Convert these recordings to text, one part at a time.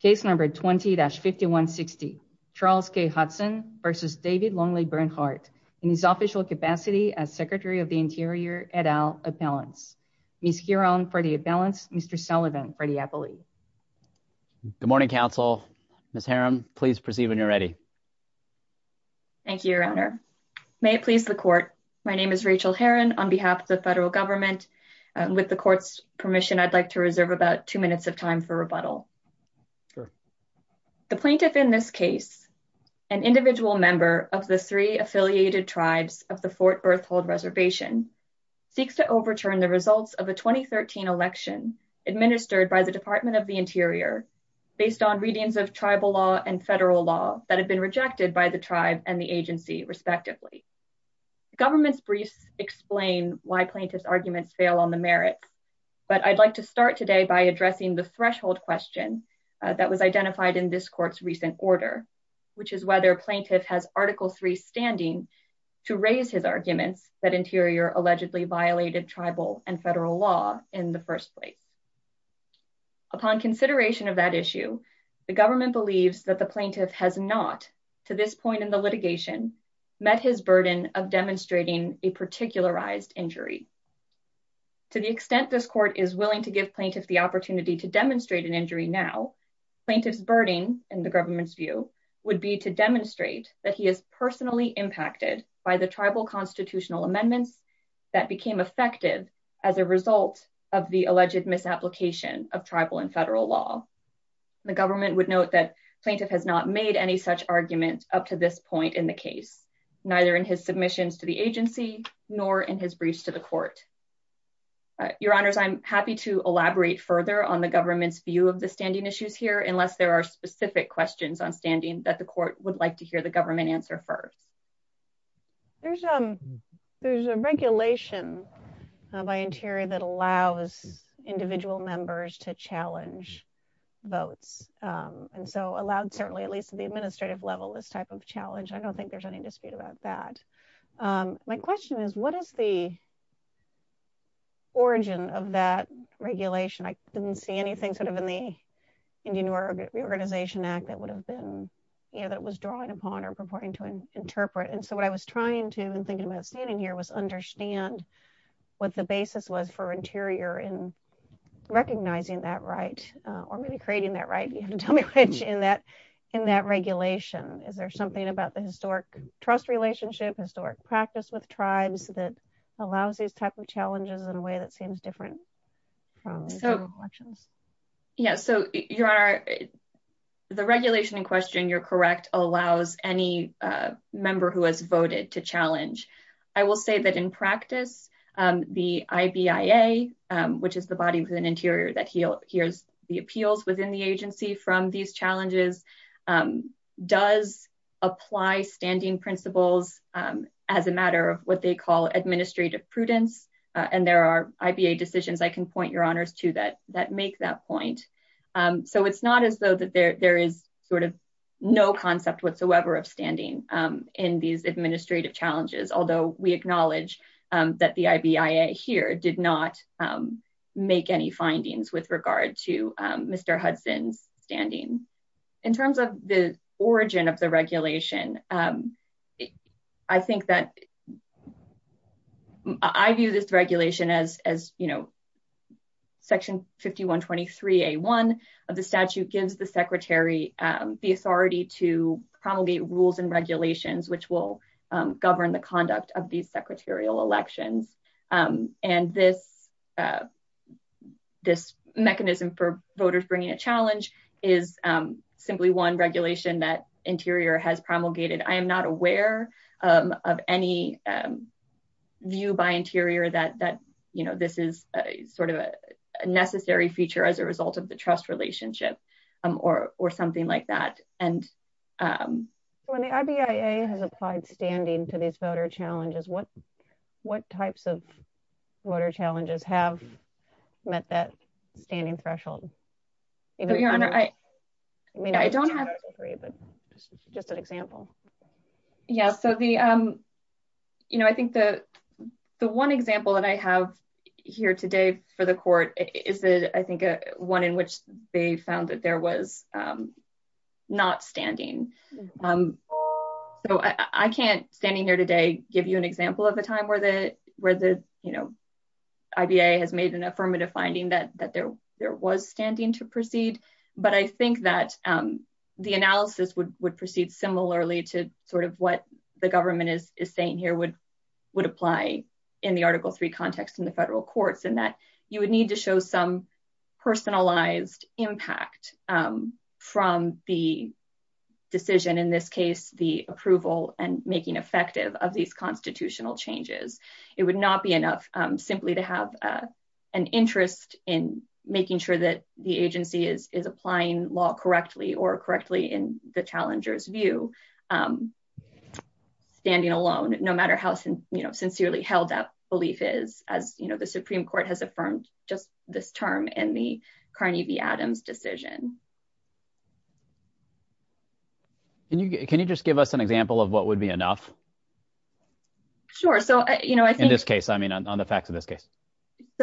Case number 20-5160, Charles K. Hudson v. David Longley Bernhardt, in his official capacity as Secretary of the Interior et al. Appellants. Ms. Giron for the Appellants, Mr. Sullivan for the Appellee. Good morning, Council. Ms. Herron, please proceed when you're ready. Thank you, Your Honor. May it please the Court, my name is Rachel Herron on behalf of the federal government. With the Court's permission, I'd like to reserve about two minutes of time for rebuttal. Sure. The plaintiff in this case, an individual member of the three affiliated tribes of the Fort Berthold Reservation, seeks to overturn the results of a 2013 election administered by the Department of the Interior based on readings of tribal law and federal law that had been rejected by the tribe and the agency, respectively. The government's briefs explain why plaintiff's arguments fail on the merits, but I'd like to start today by addressing the threshold question that was identified in this Court's recent order, which is whether plaintiff has Article 3 standing to raise his arguments that Interior allegedly violated tribal and federal law in the first place. Upon consideration of that issue, the government believes that the plaintiff has not, to this point in the litigation, met his burden of demonstrating a particularized injury. To the extent this Court is willing to give plaintiff the opportunity to demonstrate an injury, plaintiff's burden, in the government's view, would be to demonstrate that he is personally impacted by the tribal constitutional amendments that became effective as a result of the alleged misapplication of tribal and federal law. The government would note that plaintiff has not made any such argument up to this point in the case, neither in his submissions to the agency nor in his briefs to the Court. Your Honors, I'm happy to elaborate further on the government's standing issues here, unless there are specific questions on standing that the Court would like to hear the government answer first. There's a regulation by Interior that allows individual members to challenge votes, and so allowed, certainly at least at the administrative level, this type of challenge. I don't think there's any dispute about that. My question is, what is the origin of that regulation? I didn't see anything sort of in the Indian Reorganization Act that would have been, you know, that was drawing upon or purporting to interpret, and so what I was trying to, in thinking about standing here, was understand what the basis was for Interior in recognizing that right, or maybe creating that right, you have to tell me which, in that regulation. Is there something about the historic trust relationship, historic practice with tribes, that allows these type of challenges in a way that seems different from elections? Yeah, so Your Honor, the regulation in question, you're correct, allows any member who has voted to challenge. I will say that in practice, the IBIA, which is the body within Interior that hears the appeals within the agency from these challenges, does apply standing principles as a matter of what they call administrative prudence, and there are IBA decisions I can point Your Honors to that make that point. So it's not as though that there is sort of no concept whatsoever of standing in these administrative challenges, although we acknowledge that the IBIA here did not make any findings with regard to Mr. Hudson's standing. In terms of the origin of the regulation, I think that I view this regulation as, you know, Section 5123A1 of the statute gives the Secretary the authority to promulgate rules and regulations which will govern the conduct of these secretarial elections. And this mechanism for voters bringing a challenge is simply one regulation that Interior has promulgated. I am not aware of any view by Interior that, you know, this is sort of a necessary feature as a result of the trust relationship or something like that. When the IBIA has applied standing to these voter challenges, what types of voter challenges have met that standing threshold? I mean, I don't have three, but just an example. Yeah, so the, you know, I think the one example that I have here today for the Court is, I think, one in which they found that there was not standing. So I can't, standing here today, give you an example of a time where the, you know, IBIA has made an affirmative finding that there was standing to proceed. But I think that the analysis would proceed similarly to sort of what the government is saying here would apply in the Article III context in the federal courts, in that you would need to show some personalized impact from the decision, in this case, the approval and making effective of these constitutional changes. It would not be enough simply to have an interest in making sure that the agency is applying law correctly or correctly in the challenger's view. Standing alone, no matter how, you know, sincerely held up belief is, as you know, the Supreme Court has affirmed just this term in the Carney v. Adams decision. Can you just give us an example of what would be enough? Sure. So, you know, I think... In this case, I mean, on the facts of this case.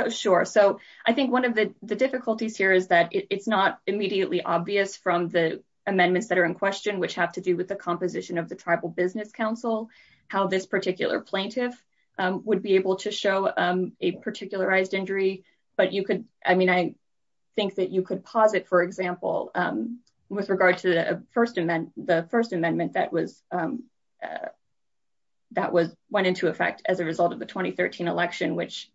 Sure. So I think one of the difficulties here is that it's not immediately obvious from the amendments that are in question, which have to do with the composition of the Tribal Business Council, how this particular plaintiff would be able to show a particularized injury. But you could... I mean, I think that you could posit, for example, with regard to the First Amendment that went into effect as a result of the 2013 election, which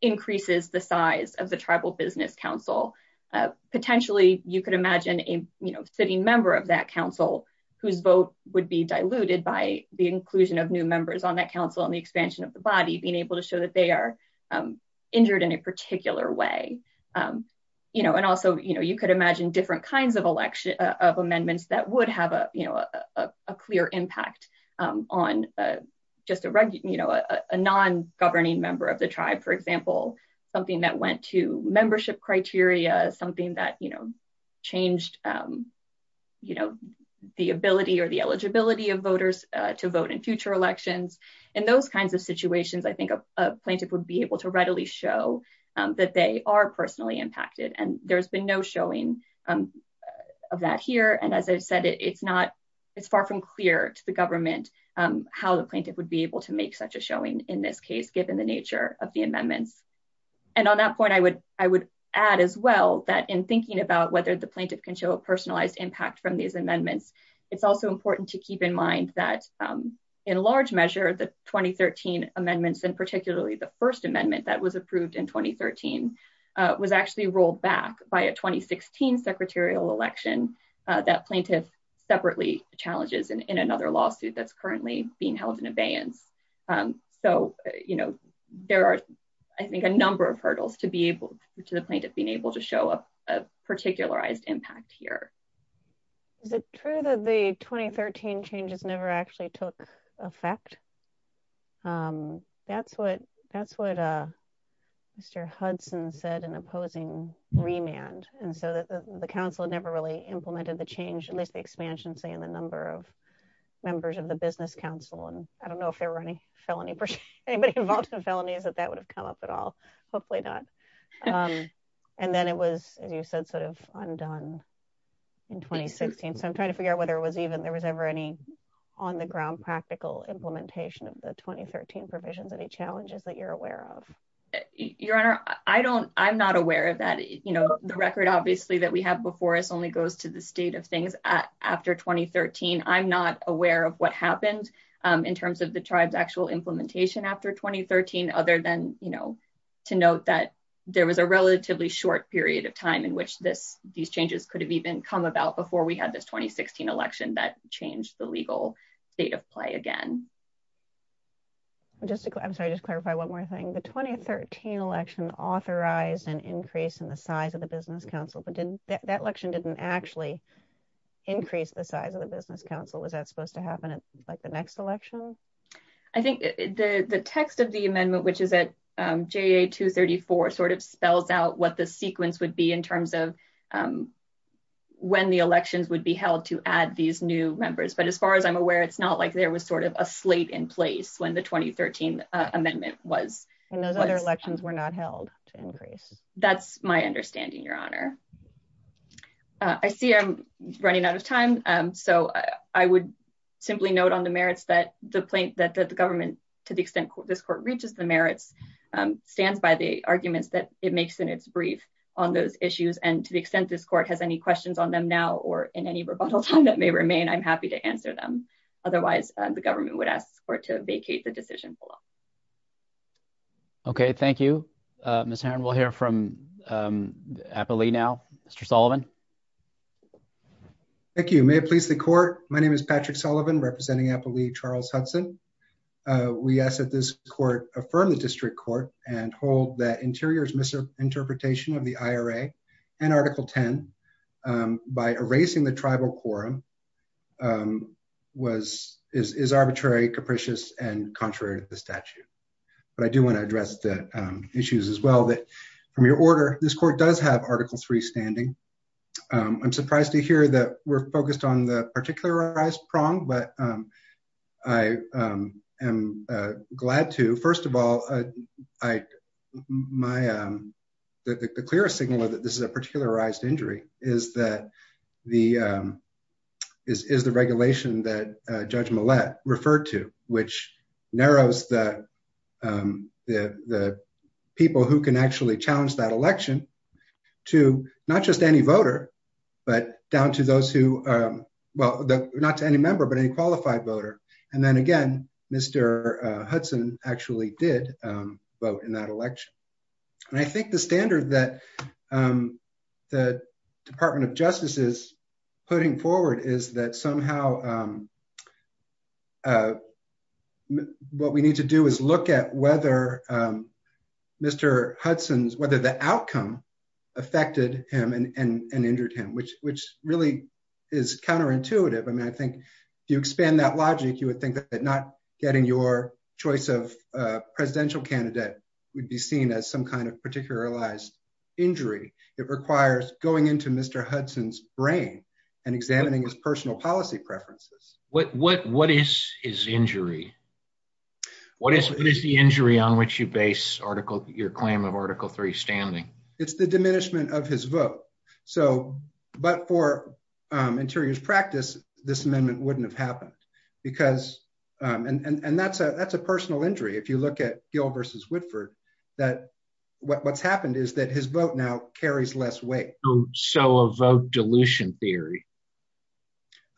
increases the size of the Tribal Business Council. Potentially, you could imagine a, you know, sitting member of that council whose vote would be diluted by the inclusion of new members on that council and the expansion of the body being able to show that they are injured in a particular way. You know, and also, you know, you could imagine different kinds of amendments that would have a, you know, a clear impact on just a non-governing member of the tribe, for example, something that went to membership criteria, something that, you know, changed, you know, the ability or the eligibility of voters to vote in future elections. In those kinds of situations, I think a plaintiff would be able to readily show that they are personally impacted. And there's been no showing of that here. And as I've said, it's not, it's far from clear to the government how the plaintiff would be able to make such a showing in this case, given the nature of the amendments. And on that point, I would add as well that in thinking about whether the plaintiff can show a personalized impact from these amendments, it's also important to keep in mind that in large measure, the 2013 amendments and particularly the first amendment that was approved in 2013 was actually rolled back by a 2016 secretarial election that plaintiff separately challenges in another lawsuit that's you know, there are, I think, a number of hurdles to be able to the plaintiff being able to show up a particularized impact here. Is it true that the 2013 changes never actually took effect? That's what, that's what Mr. Hudson said in opposing remand. And so the council never really implemented the change, at least the expansion, say in the number of felony, anybody involved in felonies that that would have come up at all. Hopefully not. And then it was, as you said, sort of undone in 2016. So I'm trying to figure out whether it was even, there was ever any on the ground practical implementation of the 2013 provisions, any challenges that you're aware of? Your Honor, I don't, I'm not aware of that. You know, the record obviously that we have before us only goes to the state of things after 2013. I'm not aware of what happened in terms of the tribe's actual implementation after 2013, other than, you know, to note that there was a relatively short period of time in which this, these changes could have even come about before we had this 2016 election that changed the legal state of play again. Just to, I'm sorry, just clarify one more thing. The 2013 election authorized an increase in the size of the business council, but didn't that election didn't actually increase the size of the business council? Was that supposed to happen at like the next election? I think the, the text of the amendment, which is at JA 234 sort of spells out what the sequence would be in terms of when the elections would be held to add these new members. But as far as I'm aware, it's not like there was sort of a slate in place when the 2013 amendment was. And those other elections were not held to increase. That's my understanding, Your Honor. I see I'm running out of time. So I would simply note on the merits that the plaintiff that the government, to the extent this court reaches the merits stands by the arguments that it makes in its brief on those issues. And to the extent this court has any questions on them now, or in any rebuttal time that may remain, I'm happy to answer them. Otherwise the government would ask for it to vacate the decision below. Okay. Thank you, Ms. Heron. We'll hear from Applee now, Mr. Sullivan. Thank you. May it please the court. My name is Patrick Sullivan representing Applee Charles Hudson. We ask that this court affirm the district court and hold that interiors misinterpretation of the IRA and article 10 by erasing the tribal quorum was, is arbitrary, capricious and contrary to the statute. But I do want to address the issues as well that from your order, this court does have article three standing. I'm surprised to hear that we're focused on the particularized prong, but I am glad to, first of all, I, my the clearest signal that this is a particularized injury is that the is, is the regulation that judge Millett referred to, which narrows that the, the people who can actually challenge that election to not just any voter, but down to those who, well, not to any member, but any qualified voter. And then again, Mr. Hudson actually did vote in that election. And I think the standard that the department of justice is putting forward is that somehow what we need to do is look at whether Mr. Hudson's, whether the outcome affected him and injured him, which, which really is counterintuitive. I mean, I think if you expand that logic, you would think that not getting your choice of a presidential candidate would be seen as some kind of particularized injury. It requires going into Mr. Hudson's brain and examining his personal policy preferences. What, what, what is his injury? What is, what is the injury on which you base article your claim of article three standing? It's the diminishment of his vote. So, but for interior's practice, this amendment wouldn't have happened because and that's a, that's a personal injury. If you look at Gill versus Whitford, that what's happened is that his vote now carries less weight. So a vote dilution theory.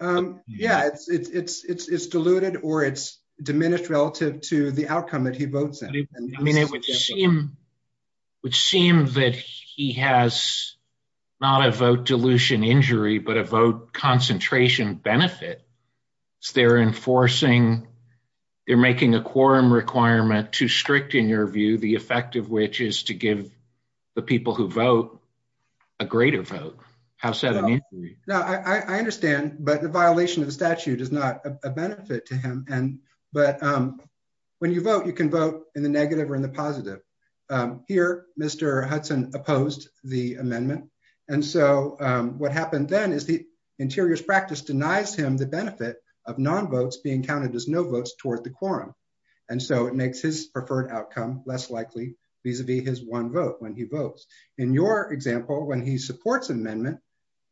Yeah, it's, it's, it's, it's, it's diluted or it's diminished relative to the outcome that he votes in. I mean, it would seem, would seem that he has not a vote dilution injury, but a vote concentration benefit. They're enforcing, they're making a quorum requirement too strict in your view, the effect of which is to give the people who vote a greater vote. How so? I understand, but the violation of the statute is not a benefit to him. And, but when you vote, you can vote in the negative or in the positive. Here, Mr. Hudson opposed the amendment. And so what happened then is the interior's practice denies him the benefit of non-votes being counted as no votes toward the quorum. And so it makes his preferred outcome less likely vis-a-vis his one vote when he votes. In your example, when he supports amendment,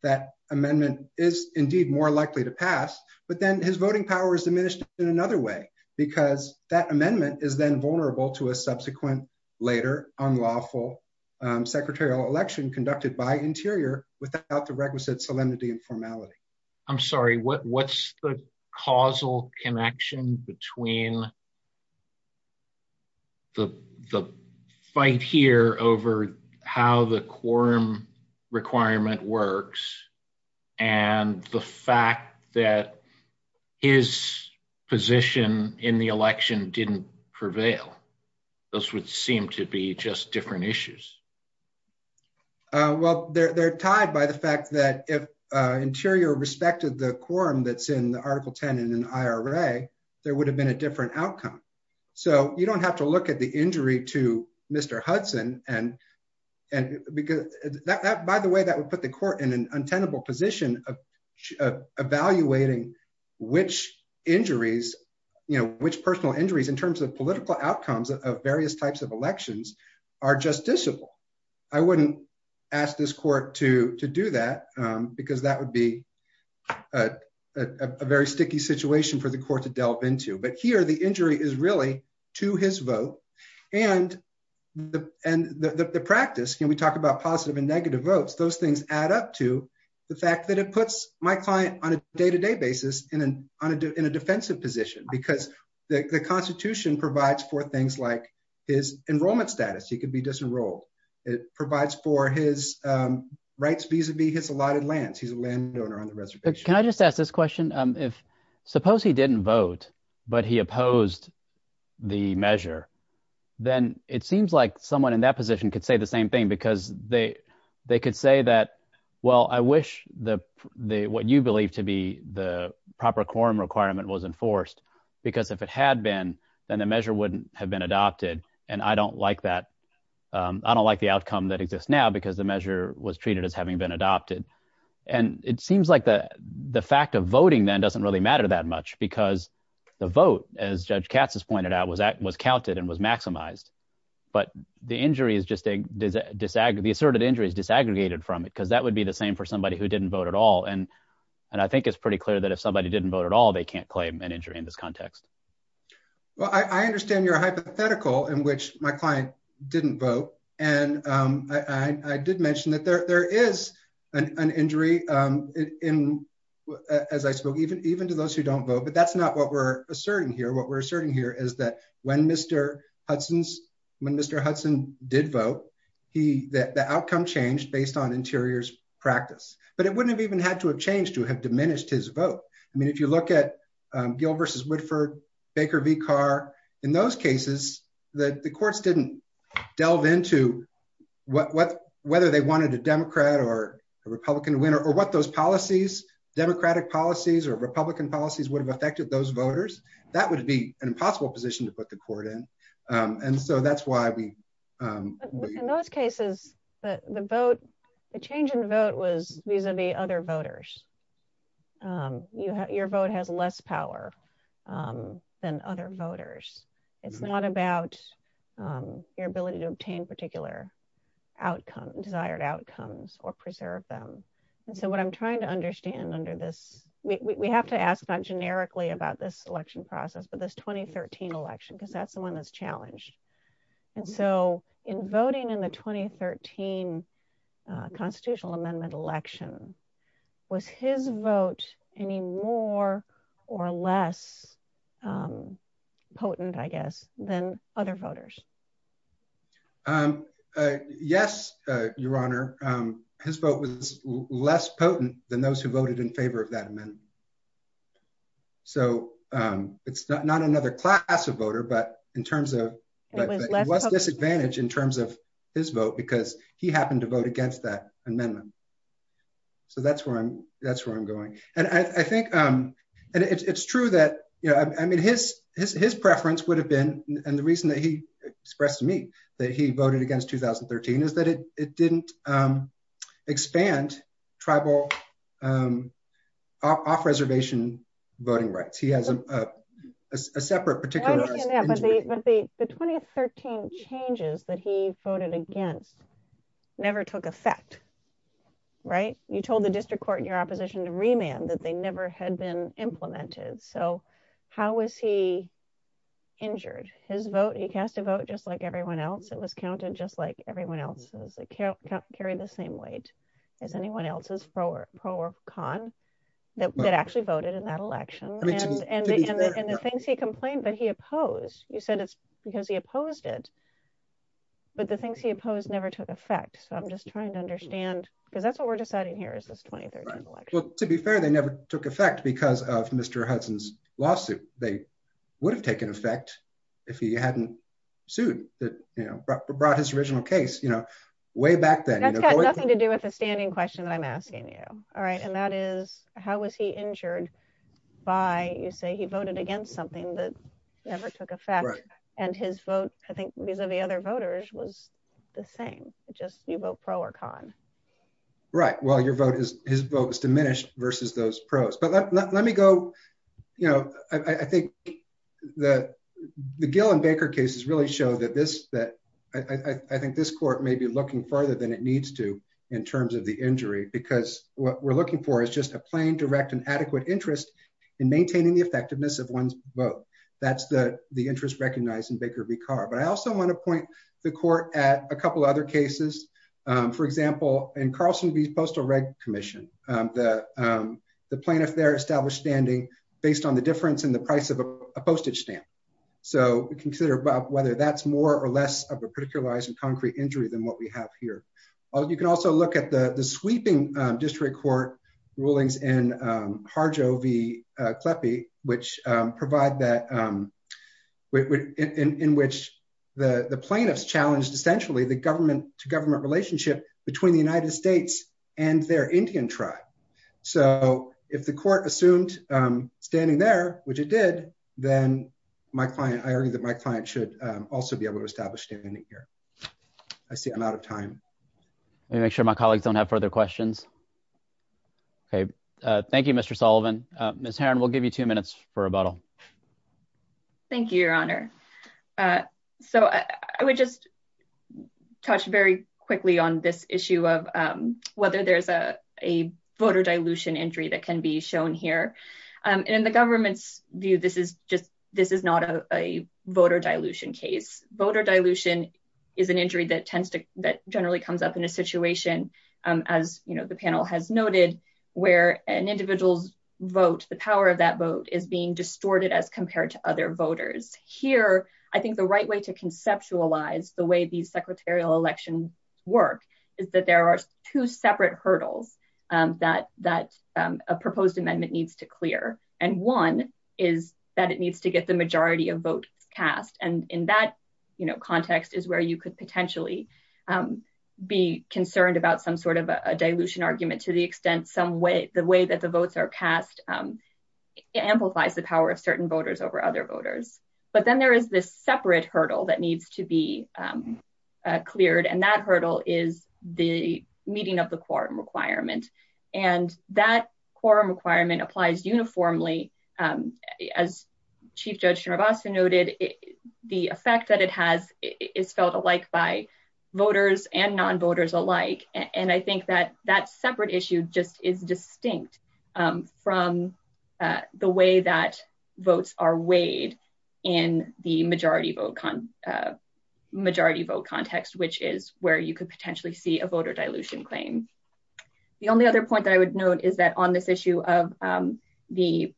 that amendment is indeed more likely to pass, but then his voting power is diminished in another way because that amendment is then vulnerable to a subsequent later unlawful secretarial election conducted by interior without the requisite solemnity and formality. I'm sorry, what, what's the causal connection between the, the fight here over how the quorum requirement works and the fact that his position in the election didn't prevail? Those would seem to be just different issues. Well, they're, they're tied by the fact that if interior respected the quorum that's in the article 10 in an IRA, there would have been a different outcome. So you don't have to look at the injury to Mr. Hudson and, and because that, that, by the way, that would put the court in an untenable position of evaluating which injuries, you know, which personal injuries in terms of political outcomes of various types of elections are justiciable. I wouldn't ask this a very sticky situation for the court to delve into, but here, the injury is really to his vote and the, and the, the, the practice, can we talk about positive and negative votes? Those things add up to the fact that it puts my client on a day-to-day basis in an, on a, in a defensive position because the constitution provides for things like his enrollment status. He could be disenrolled. It provides for his rights vis-a-vis his allotted lands. He's a landowner on the If, suppose he didn't vote, but he opposed the measure, then it seems like someone in that position could say the same thing because they, they could say that, well, I wish the, the, what you believe to be the proper quorum requirement was enforced because if it had been, then the measure wouldn't have been adopted. And I don't like that. I don't like the outcome that exists now because the measure was treated as having been adopted. And it seems like the, the fact of voting then doesn't really matter that much because the vote, as Judge Katz has pointed out, was, was counted and was maximized. But the injury is just a disag, the asserted injury is disaggregated from it because that would be the same for somebody who didn't vote at all. And, and I think it's pretty clear that if somebody didn't vote at all, they can't claim an injury in this context. Well, I, I understand your hypothetical in which my client didn't vote. And I, I did mention that there, there is an injury in, as I spoke, even, even to those who don't vote, but that's not what we're asserting here. What we're asserting here is that when Mr. Hudson's, when Mr. Hudson did vote, he, the outcome changed based on interior's practice, but it wouldn't have even had to have changed to have diminished his vote. I mean, if you look at the courts didn't delve into what, what, whether they wanted a Democrat or a Republican winner or what those policies, Democratic policies or Republican policies would have affected those voters, that would be an impossible position to put the court in. And so that's why we, In those cases, the vote, the change in vote was vis-a-vis other voters. You have, your vote has less power than other voters. It's not about your ability to obtain particular outcome, desired outcomes or preserve them. And so what I'm trying to understand under this, we have to ask not generically about this election process, but this 2013 election, because that's the one that's challenged. And so in voting in the 2013 constitutional amendment election, was his vote any more or less potent, I guess, than other voters? Yes, your honor, his vote was less potent than those who voted in favor of that amendment. So it's not another class of voter, but in terms of, it was disadvantaged in terms of his vote because he happened to vote against that amendment. So that's where I'm, that's where I'm going. And I think, and it's true that, you know, I mean, his, his, his preference would have been, and the reason that he expressed to me that he voted against 2013 is that it, it didn't expand tribal off-reservation voting rights. He has a separate particular. But the, the 2013 changes that he voted against never took effect, right? You told the district court in your opposition to remand that they never had been implemented. So how was he injured his vote? He cast a vote just like everyone else. It was counted just like everyone else's account carry the same weight as anyone else's pro or con that actually voted in that you said it's because he opposed it, but the things he opposed never took effect. So I'm just trying to understand, because that's what we're deciding here is this 2013 election. To be fair, they never took effect because of Mr. Hudson's lawsuit. They would have taken effect if he hadn't sued that, you know, brought his original case, you know, way back then, nothing to do with the standing question that I'm asking you. All right. And that is, how was he injured by, you say he voted against something that never took effect and his vote, I think vis-a-vis other voters was the same, just you vote pro or con. Right. Well, your vote is his vote was diminished versus those pros, but let me go, you know, I think that the Gill and Baker cases really show that this, that I think this court may be looking further than it needs to in terms of the injury, because what we're looking for is just a plain, direct and adequate interest in maintaining the effectiveness of one's vote. That's the interest recognized in Baker v. Carr. But I also want to point the court at a couple of other cases, for example, in Carlson v. Postal Reg Commission, the plaintiff there established standing based on the difference in the price of a postage stamp. So consider whether that's more or less of a particularized and concrete injury than what we have here. You can also look at the sweeping district court rulings in Harjo v. Kleppe, which provide that in which the plaintiffs challenged essentially the government to government relationship between the United States and their Indian tribe. So if the court assumed standing there, which it did, then my client, I argue that my client should also be able to establish standing here. I see a lot of time. Let me make sure my colleagues don't have further questions. Okay. Thank you, Mr. Sullivan. Ms. Heron, we'll give you two minutes for rebuttal. Thank you, Your Honor. So I would just touch very quickly on this issue of whether there's a voter dilution injury that can be shown here. And in the government's view, this is just, a voter dilution case. Voter dilution is an injury that tends to, that generally comes up in a situation as the panel has noted, where an individual's vote, the power of that vote is being distorted as compared to other voters. Here, I think the right way to conceptualize the way these secretarial election work is that there are two separate hurdles that a proposed amendment needs to clear. And one is that it needs to get the majority of votes cast. And in that context is where you could potentially be concerned about some sort of a dilution argument to the extent some way, the way that the votes are cast, it amplifies the power of certain voters over other voters. But then there is this separate hurdle that needs to be cleared. And that hurdle is the meeting of the quorum requirement. And that quorum requirement applies uniformly. As Chief Judge Narbasa noted, the effect that it has is felt alike by voters and non-voters alike. And I think that that separate issue just is distinct from the way that votes are weighed in the majority vote context, which is where you could potentially see a voter dilution claim. The only other point that I would note is that on this issue of the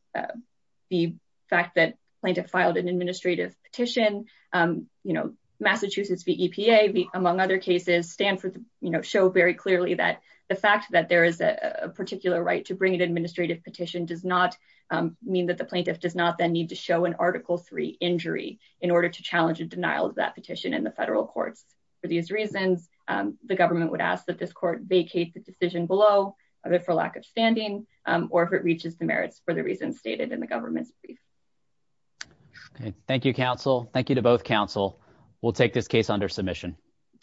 fact that the plaintiff filed an administrative petition, Massachusetts v. EPA, among other cases, Stanford show very clearly that the fact that there is a particular right to bring an administrative petition does not mean that the plaintiff does not then need to show an Article III injury in order to challenge a denial of that petition in the federal courts. For these reasons, the government would ask that this court vacate the decision below of it for lack of standing, or if it reaches the merits for the reasons stated in the government's brief. Thank you, counsel. Thank you to both counsel. We'll take this case under submission.